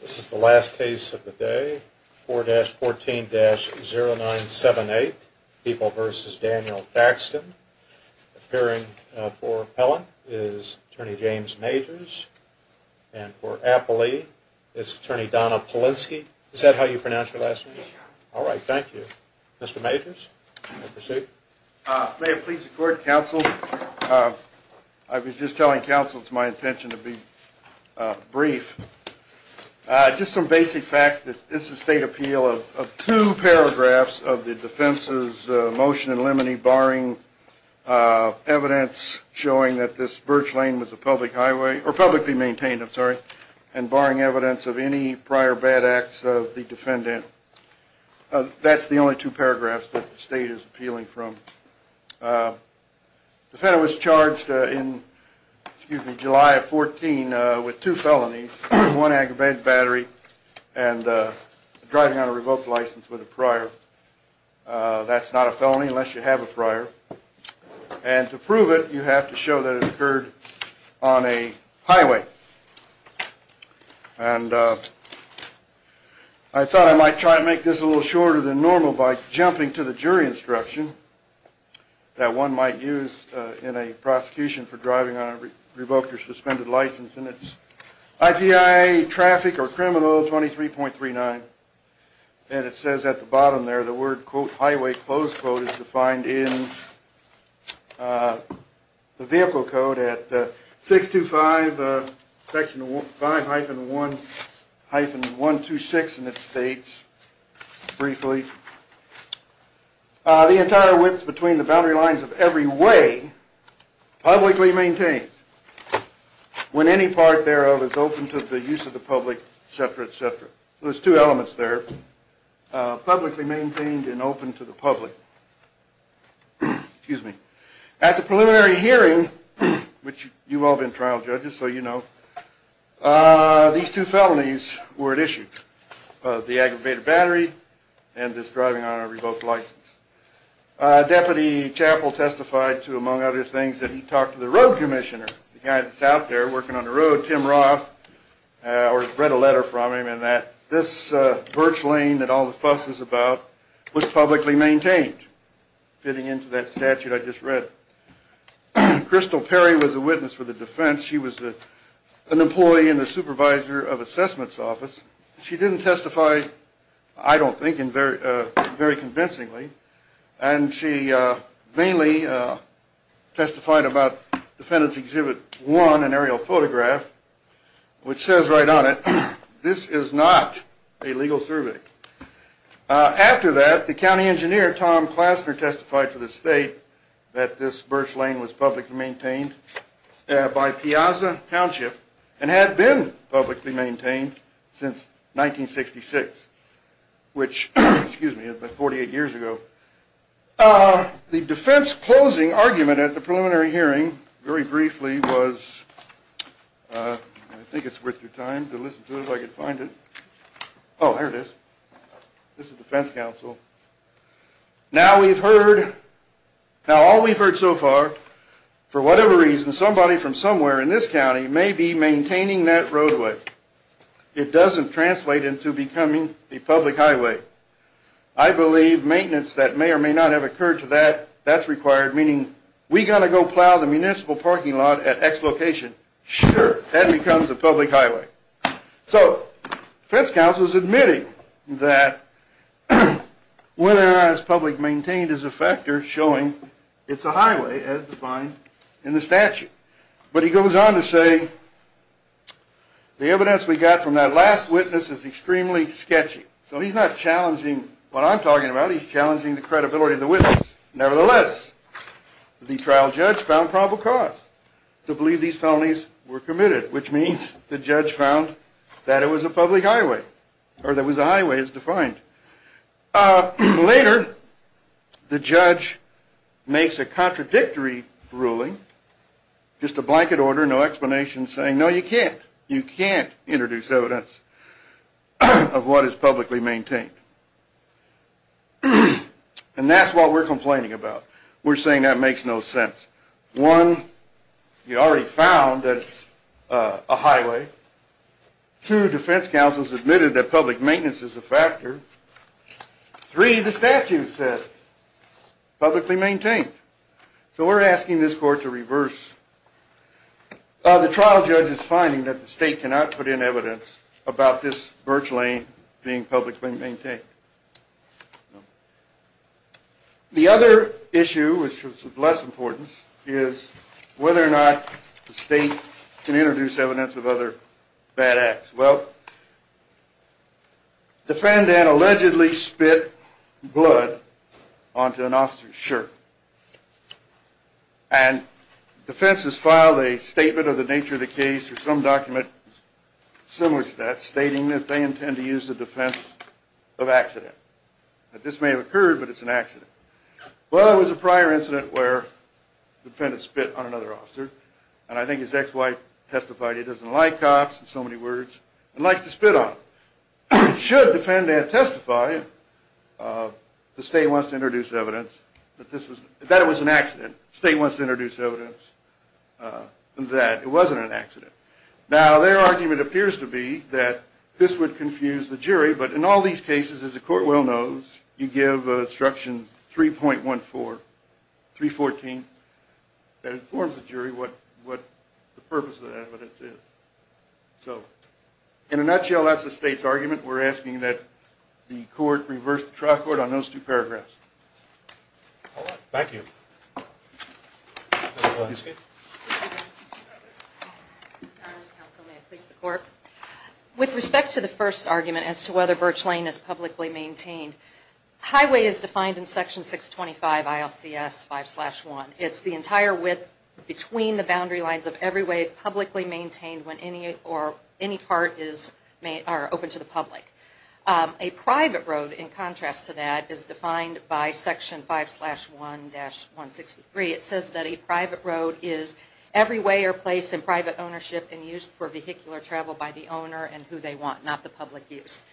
This is the last case of the day. 4-14-0978. People v. Daniel Thaxton. Appearing for Appellant is Attorney James Majors. And for Appellee is Attorney Donna Polinsky. Is that how you pronounce your last name? Yeah. All right, thank you. Mr. Majors, you may proceed. May it please the Court, Counsel. I was just telling Counsel it's my intention to be brief. Just some basic facts. This is state appeal of two paragraphs of the defense's motion in limine barring evidence showing that this Birch Lane was a public highway, or publicly maintained, I'm sorry, and barring evidence of any prior bad acts of the defendant. That's the only two paragraphs that the state is appealing from. The defendant was charged in July of 14 with two felonies, one aggravated battery and driving on a revoked license with a prior. That's not a felony unless you have a prior. And to prove it, you have to show that it occurred on a highway. And I thought I might try to make this a little shorter than normal by jumping to the jury instruction that one might use in a prosecution for driving on a revoked or suspended license, and it's IPIA traffic or criminal 23.39. And it says at the bottom there the word quote highway close quote is defined in the vehicle code at 625 section 5-1-126, and it states briefly, the entire width between the boundary lines of every way publicly maintained when any part thereof is open to the use of the public, et cetera, et cetera. So there's two elements there, publicly maintained and open to the public. Excuse me. At the preliminary hearing, which you've all been trial judges, so you know, these two felonies were at issue, the aggravated battery and this driving on a revoked license. Deputy Chappell testified to, among other things, that he talked to the road commissioner, the guy that's out there working on that this birch lane that all the fuss is about was publicly maintained, fitting into that statute I just read. Crystal Perry was a witness for the defense. She was an employee in the supervisor of assessments office. She didn't testify, I don't think, very convincingly, and she mainly testified about defendant's exhibit one, an aerial photograph, which says right on it, this is not a legal survey. After that, the county engineer, Tom Klassner, testified to the state that this birch lane was publicly maintained by Piazza Township and had been publicly maintained since 1966, which, excuse me, about 48 years ago. The defense closing argument at the preliminary hearing, very briefly, was, I think it's worth your time to listen to it if I can find it. Oh, here it is. This is the defense counsel. Now we've heard, now all we've heard so far, for whatever reason, somebody from somewhere in this county may be maintaining that roadway. It doesn't translate into becoming a public highway. I believe maintenance that may or may not have occurred to that, that's required, meaning we've got to go plow the municipal parking lot at X location. Sure, that becomes a public highway. So defense counsel is admitting that whether or not it's public maintained is a factor showing it's a highway, as defined in the statute. But he goes on to say the evidence we got from that last witness is extremely sketchy. So he's not challenging what I'm talking about. He's challenging the credibility of the witness. Nevertheless, the trial judge found probable cause to believe these felonies were committed, which means the judge found that it was a public highway, or that it was a highway, as defined. Later, the judge makes a contradictory ruling, just a blanket order, no explanation, saying, no, you can't. You can't introduce evidence of what is publicly maintained. And that's what we're complaining about. We're saying that makes no sense. One, you already found that it's a highway. Two, defense counsel has admitted that public maintenance is a factor. Three, the statute says publicly maintained. So we're asking this court to reverse the trial judge's finding that the state cannot put in evidence about this virtually being publicly maintained. The other issue, which is of less importance, is whether or not the state can introduce evidence of other bad acts. Well, the defendant allegedly spit blood onto an officer's shirt. And defense has filed a statement of the nature of the case, or some document similar to that, stating that they intend to use the defense of accident, that this may have occurred, but it's an accident. Well, there was a prior incident where the defendant spit on another officer, and I think his ex-wife testified he doesn't like cops, in so many words, and likes to spit on them. Should the defendant testify, the state wants to introduce evidence that this was an accident. The state wants to introduce evidence that it wasn't an accident. Now, their argument appears to be that this would confuse the jury, but in all these cases, as the court well knows, you give instruction 3.14 that informs the jury what the purpose of that evidence is. So in a nutshell, that's the state's argument. We're asking that the court reverse the trial court on those two paragraphs. All right. Thank you. Your Honor, counsel, may I please the court? With respect to the first argument as to whether Birch Lane is publicly maintained, highway is defined in Section 625 ILCS 5-1. It's the entire width between the boundary lines of every way publicly maintained when any part is open to the public. A private road, in contrast to that, is defined by Section 5-1-163. It says that a private road is every way or place in private ownership and used for vehicular travel by the owner and who they want, not the public use.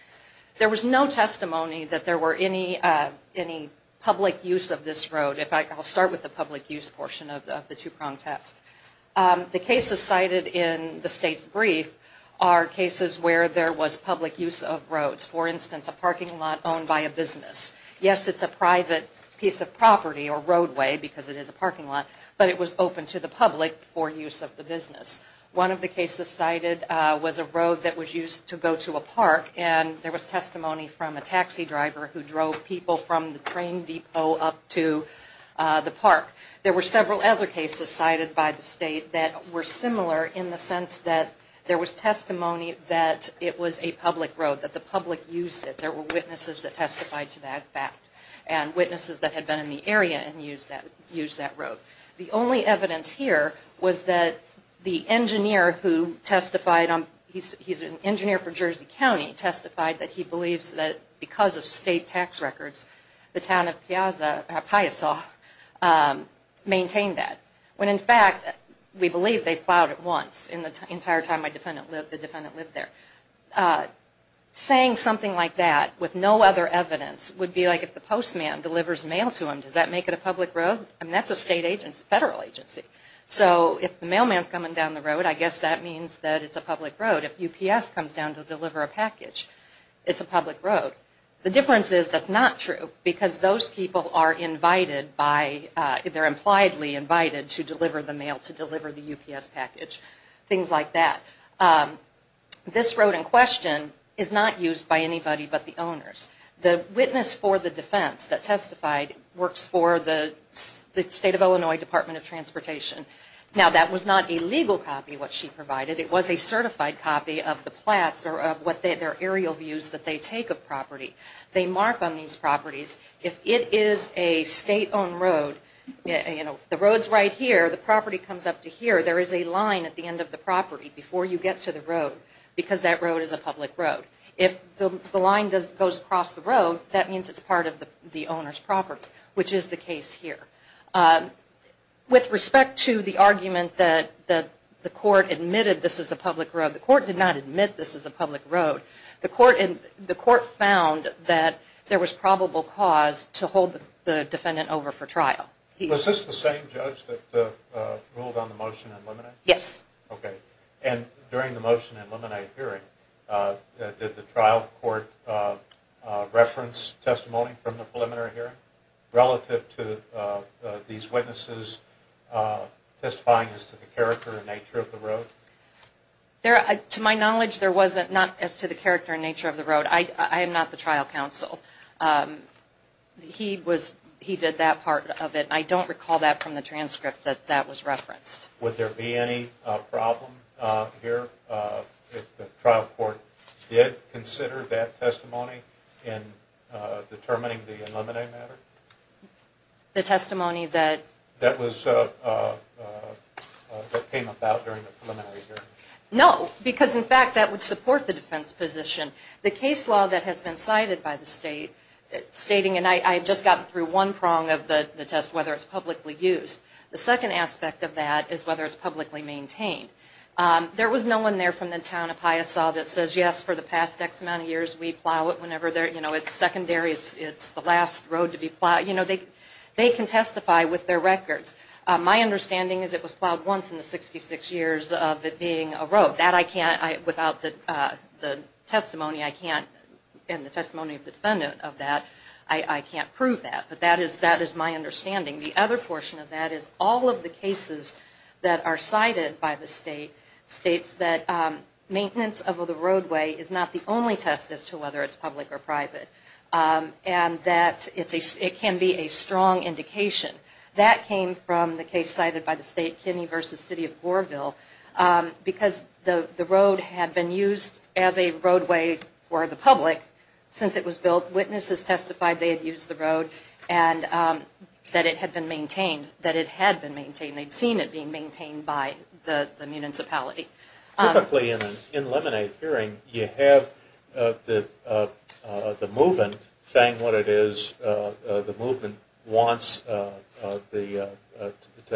There was no testimony that there were any public use of this road. In fact, I'll start with the public use portion of the two-prong test. The cases cited in the state's brief are cases where there was public use of roads. For instance, a parking lot owned by a business. Yes, it's a private piece of property or roadway because it is a parking lot, but it was open to the public for use of the business. One of the cases cited was a road that was used to go to a park, and there was testimony from a taxi driver who drove people from the train depot up to the park. There were several other cases cited by the state that were similar in the sense that there was testimony that it was a public road, that the public used it. There were witnesses that testified to that fact and witnesses that had been in the area and used that road. The only evidence here was that the engineer who testified, he's an engineer for Jersey County, testified that he believes that because of state tax records, the town of Piasaw maintained that. When, in fact, we believe they plowed it once. The entire time the defendant lived there. Saying something like that with no other evidence would be like if the postman delivers mail to him. Does that make it a public road? That's a state agency, a federal agency. So if the mailman is coming down the road, I guess that means that it's a public road. If UPS comes down to deliver a package, it's a public road. The difference is that's not true because those people are invited by, they're impliedly invited to deliver the mail, to deliver the UPS package, things like that. This road in question is not used by anybody but the owners. The witness for the defense that testified works for the state of Illinois Department of Transportation. Now that was not a legal copy, what she provided. It was a certified copy of the plats or of what their aerial views that they take of property. They mark on these properties. If it is a state-owned road, the road's right here, the property comes up to here, there is a line at the end of the property before you get to the road because that road is a public road. If the line goes across the road, that means it's part of the owner's property, which is the case here. With respect to the argument that the court admitted this is a public road, the court did not admit this is a public road. The court found that there was probable cause to hold the defendant over for trial. Was this the same judge that ruled on the motion in Lemonade? Yes. Okay. And during the motion in Lemonade hearing, did the trial court reference testimony from the preliminary hearing relative to these witnesses testifying as to the character and nature of the road? To my knowledge, there was not as to the character and nature of the road. I am not the trial counsel. He did that part of it. I don't recall that from the transcript that that was referenced. Would there be any problem here if the trial court did consider that testimony in determining the Lemonade matter? The testimony that? That came about during the preliminary hearing? No. Because, in fact, that would support the defense position. The case law that has been cited by the state stating, and I had just gotten through one prong of the test, whether it's publicly used. The second aspect of that is whether it's publicly maintained. There was no one there from the town of Hyassal that says, yes, for the past X amount of years we plow it whenever it's secondary, it's the last road to be plowed. They can testify with their records. My understanding is it was plowed once in the 66 years of it being a road. That I can't, without the testimony I can't, and the testimony of the defendant of that, I can't prove that. But that is my understanding. The other portion of that is all of the cases that are cited by the state states that maintenance of the roadway is not the only test as to whether it's public or private. And that it can be a strong indication. That came from the case cited by the state, Kinney v. City of Goreville, because the road had been used as a roadway for the public since it was built. Witnesses testified they had used the road and that it had been maintained, that it had been maintained. They'd seen it being maintained by the municipality. Typically in a lemonade hearing, you have the movement saying what it is the movement wants to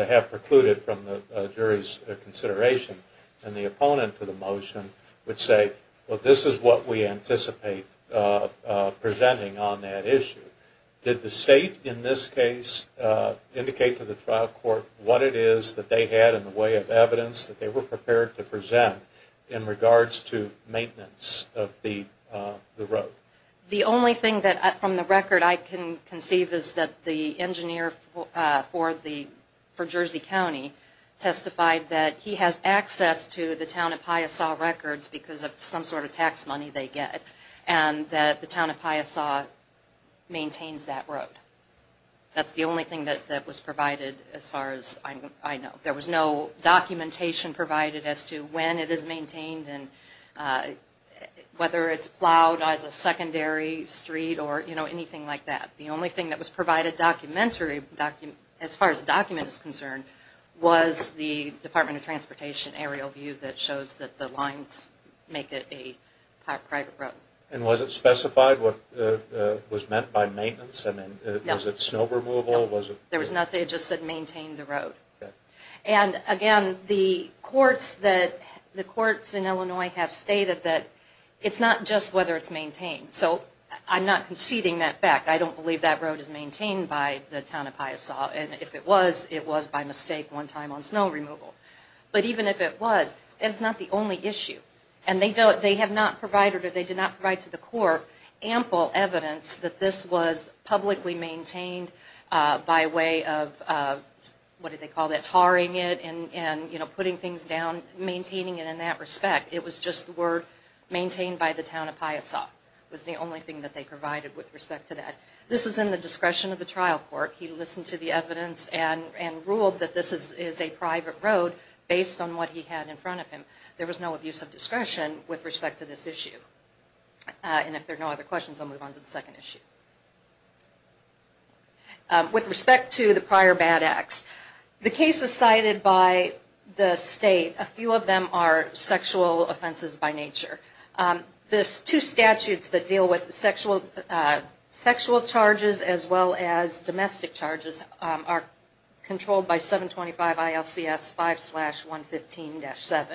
have precluded from the jury's consideration. And the opponent to the motion would say, well, this is what we anticipate presenting on that issue. Did the state in this case indicate to the trial court what it is that they had in the way of evidence that they were prepared to present in regards to maintenance of the road? The only thing from the record I can conceive is that the engineer for Jersey County testified that he has access to the town of Piasaw records because of some sort of tax money they get. And that the town of Piasaw maintains that road. That's the only thing that was provided as far as I know. There was no documentation provided as to when it is maintained and whether it's plowed as a secondary street or anything like that. The only thing that was provided as far as the document is concerned was the Department of Transportation aerial view that shows that the lines make it a private road. And was it specified what was meant by maintenance? Was it snow removal? It just said maintain the road. And, again, the courts in Illinois have stated that it's not just whether it's maintained. So I'm not conceding that fact. I don't believe that road is maintained by the town of Piasaw. And if it was, it was by mistake one time on snow removal. But even if it was, it's not the only issue. And they have not provided or they did not provide to the court ample evidence that this was publicly maintained by way of, what do they call that, tarring it and, you know, putting things down, maintaining it in that respect. It was just the word maintained by the town of Piasaw was the only thing that they provided with respect to that. This is in the discretion of the trial court. He listened to the evidence and ruled that this is a private road based on what he had in front of him. There was no abuse of discretion with respect to this issue. And if there are no other questions, I'll move on to the second issue. With respect to the prior bad acts, the cases cited by the state, a few of them are sexual offenses by nature. The two statutes that deal with sexual charges as well as domestic charges are controlled by 725 ILCS 5-115-7.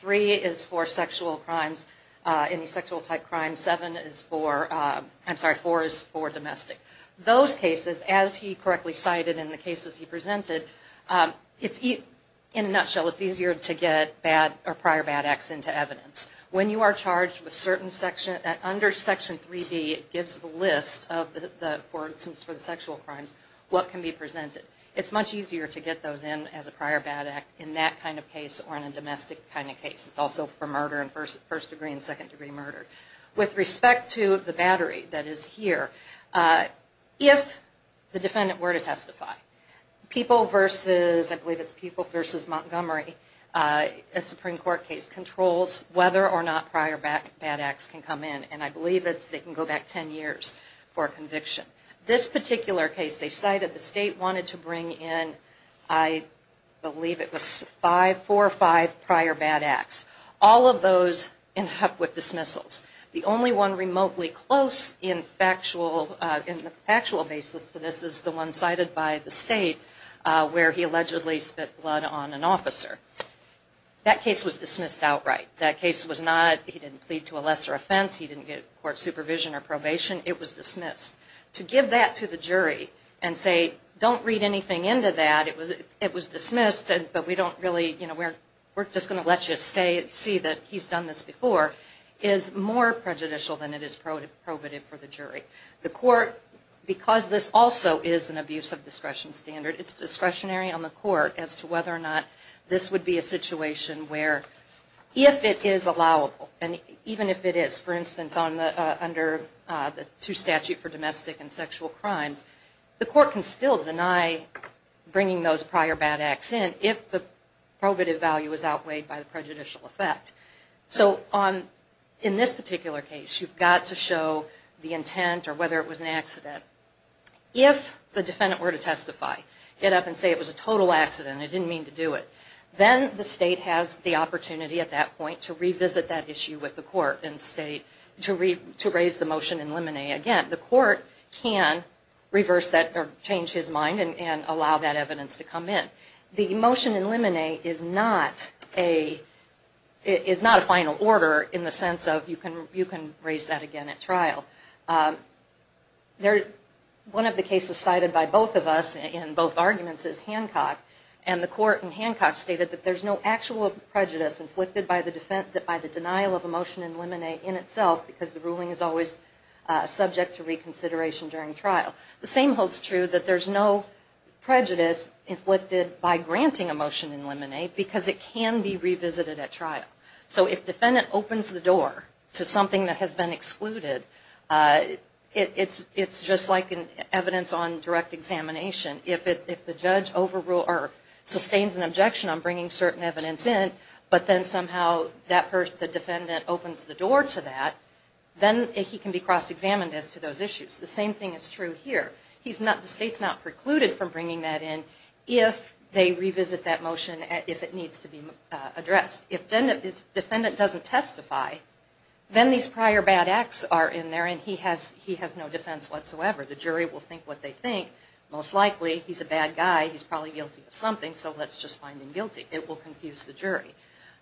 Three is for sexual crimes, any sexual type crime. Seven is for, I'm sorry, four is for domestic. Those cases, as he correctly cited in the cases he presented, in a nutshell, it's easier to get bad or prior bad acts into evidence. When you are charged with certain section, under Section 3B, it gives the list of the, for instance, for the sexual crimes, what can be presented. It's much easier to get those in as a prior bad act in that kind of case or in a domestic kind of case. It's also for murder and first degree and second degree murder. With respect to the battery that is here, if the defendant were to testify, people versus, I believe it's people versus Montgomery, a Supreme Court case controls whether or not prior bad acts can come in. And I believe they can go back 10 years for a conviction. This particular case they cited, the state wanted to bring in, I believe it was five, four or five prior bad acts. All of those end up with dismissals. The only one remotely close in the factual basis to this is the one cited by the state where he allegedly spit blood on an officer. That case was dismissed outright. That case was not, he didn't plead to a lesser offense, he didn't get court supervision or probation, it was dismissed. To give that to the jury and say, don't read anything into that, it was dismissed but we're just going to let you see that he's done this before, is more prejudicial than it is probative for the jury. The court, because this also is an abuse of discretion standard, it's discretionary on the court as to whether or not this would be a situation where if it is allowable, and even if it is, for instance, under the two statute for domestic and sexual crimes, the court can still deny bringing those prior bad acts in if the probative value is outweighed by the prejudicial effect. In this particular case, you've got to show the intent or whether it was an accident. If the defendant were to testify, get up and say it was a total accident, I didn't mean to do it, then the state has the opportunity at that point to revisit that issue with the court and state, to raise the motion in limine. Again, the court can reverse that or change his mind and allow that evidence to come in. The motion in limine is not a final order in the sense of you can raise that again at trial. One of the cases cited by both of us in both arguments is Hancock, and the court in Hancock stated that there's no actual prejudice inflicted by the denial of a motion in limine in itself because the ruling is always subject to reconsideration during trial. The same holds true that there's no prejudice inflicted by granting a motion in limine because it can be revisited at trial. So if defendant opens the door to something that has been excluded, it's just like evidence on direct examination. If the judge sustains an objection on bringing certain evidence in, but then somehow the defendant opens the door to that, then he can be cross-examined as to those issues. The same thing is true here. The state's not precluded from bringing that in if they revisit that motion if it needs to be addressed. If the defendant doesn't testify, then these prior bad acts are in there and he has no defense whatsoever. The jury will think what they think. Most likely, he's a bad guy, he's probably guilty of something, so let's just find him guilty. It will confuse the jury.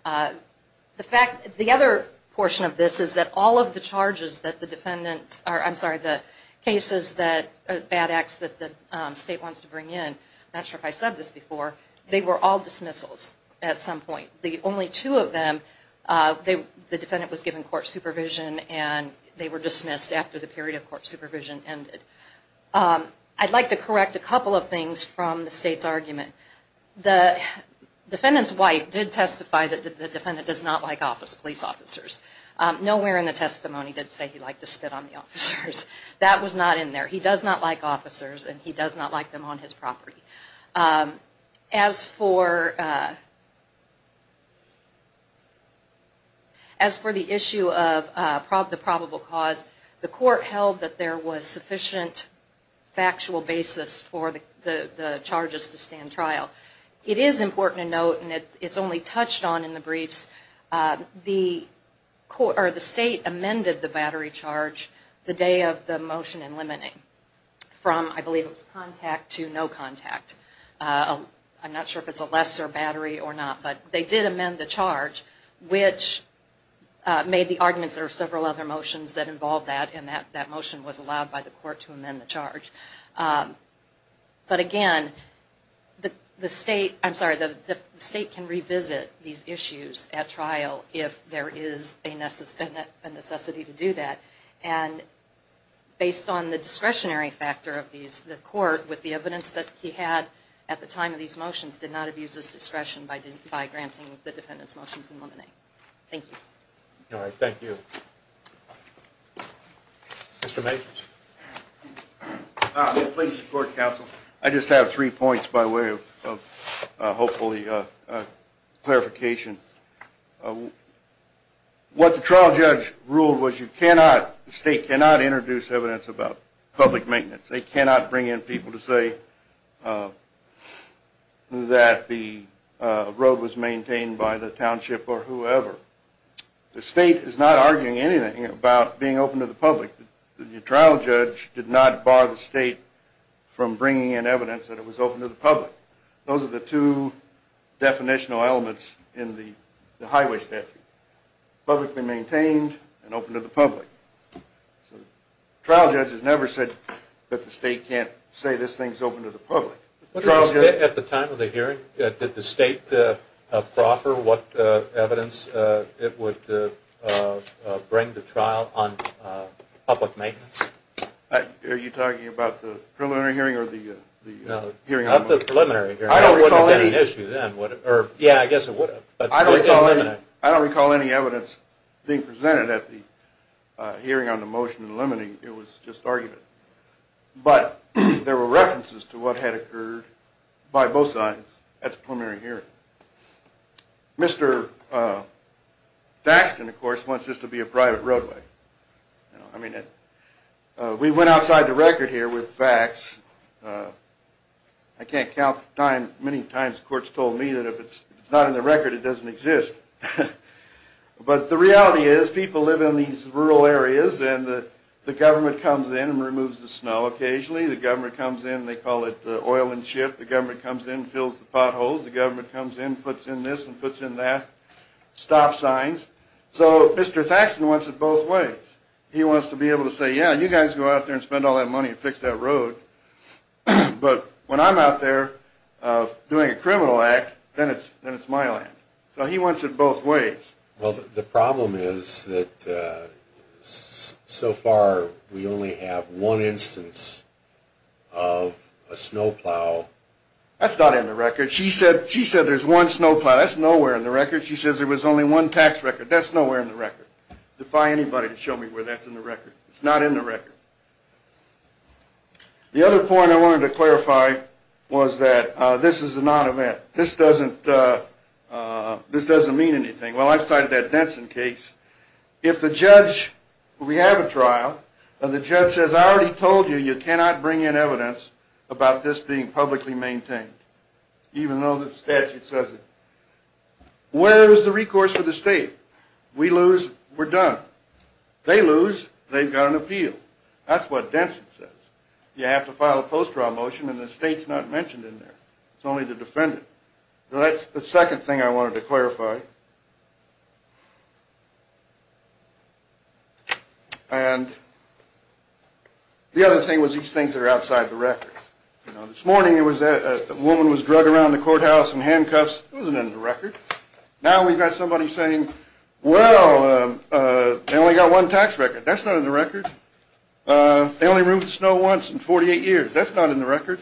The other portion of this is that all of the charges that the defendant, I'm sorry, the bad acts that the state wants to bring in, I'm not sure if I said this before, they were all dismissals at some point. The only two of them, the defendant was given court supervision and they were dismissed after the period of court supervision ended. I'd like to correct a couple of things from the state's argument. Defendant White did testify that the defendant does not like police officers. Nowhere in the testimony did it say he liked to spit on the officers. That was not in there. He does not like officers and he does not like them on his property. As for the issue of the probable cause, the court held that there was sufficient factual basis for the charges to stand trial. It is important to note, and it's only touched on in the briefs, the state amended the battery charge the day of the motion in limiting, from I believe it was contact to no contact. I'm not sure if it's a lesser battery or not, but they did amend the charge, which made the arguments that there were several other motions that involved that and that motion was allowed by the court to amend the charge. But again, the state can revisit these issues at trial if there is a necessity to do that. Based on the discretionary factor of these, the court, with the evidence that he had at the time of these motions, did not abuse his discretion by granting the defendant's motions in limiting. Thank you. All right, thank you. Mr. Masons. Mr. Court Counsel, I just have three points by way of hopefully clarification. What the trial judge ruled was you cannot, the state cannot introduce evidence about public maintenance. They cannot bring in people to say that the road was maintained by the township or whoever. The state is not arguing anything about being open to the public. The trial judge did not bar the state from bringing in evidence that it was open to the public. Those are the two definitional elements in the highway statute, publicly maintained and open to the public. The trial judge has never said that the state can't say this thing is open to the public. At the time of the hearing, did the state proffer what evidence it would bring to trial on public maintenance? Are you talking about the preliminary hearing or the hearing? Not the preliminary hearing. It wouldn't have been an issue then. Yeah, I guess it would have. I don't recall any evidence being presented at the hearing on the motion in limiting. It was just argument. But there were references to what had occurred by both sides at the preliminary hearing. Mr. Daxton, of course, wants this to be a private roadway. I mean, we went outside the record here with facts. I can't count the time, many times the courts told me that if it's not in the record, it doesn't exist. But the reality is people live in these rural areas and the government comes in and removes the snow occasionally. The government comes in, they call it the oil and ship. The government comes in, fills the potholes. The government comes in, puts in this and puts in that, stop signs. So Mr. Daxton wants it both ways. He wants to be able to say, yeah, you guys go out there and spend all that money and fix that road. But when I'm out there doing a criminal act, then it's my land. So he wants it both ways. Well, the problem is that so far we only have one instance of a snowplow. That's not in the record. She said there's one snowplow. That's nowhere in the record. She says there was only one tax record. That's nowhere in the record. Defy anybody to show me where that's in the record. It's not in the record. The other point I wanted to clarify was that this is a non-event. This doesn't mean anything. Well, I've cited that Denson case. If the judge, we have a trial, and the judge says, I already told you, you cannot bring in evidence about this being publicly maintained, even though the statute says it, where is the recourse for the state? We lose, we're done. They lose, they've got an appeal. That's what Denson says. You have to file a post-trial motion, and the state's not mentioned in there. It's only the defendant. So that's the second thing I wanted to clarify. And the other thing was these things that are outside the record. This morning, a woman was drug around the courthouse in handcuffs. It wasn't in the record. Now we've got somebody saying, well, they only got one tax record. That's not in the record. They only removed the snow once in 48 years. That's not in the record.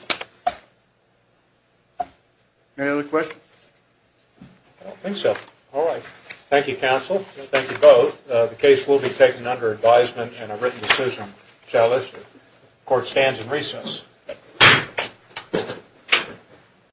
Any other questions? I don't think so. All right. Thank you, counsel. Thank you both. The case will be taken under advisement and a written decision. Shall this court stand in recess?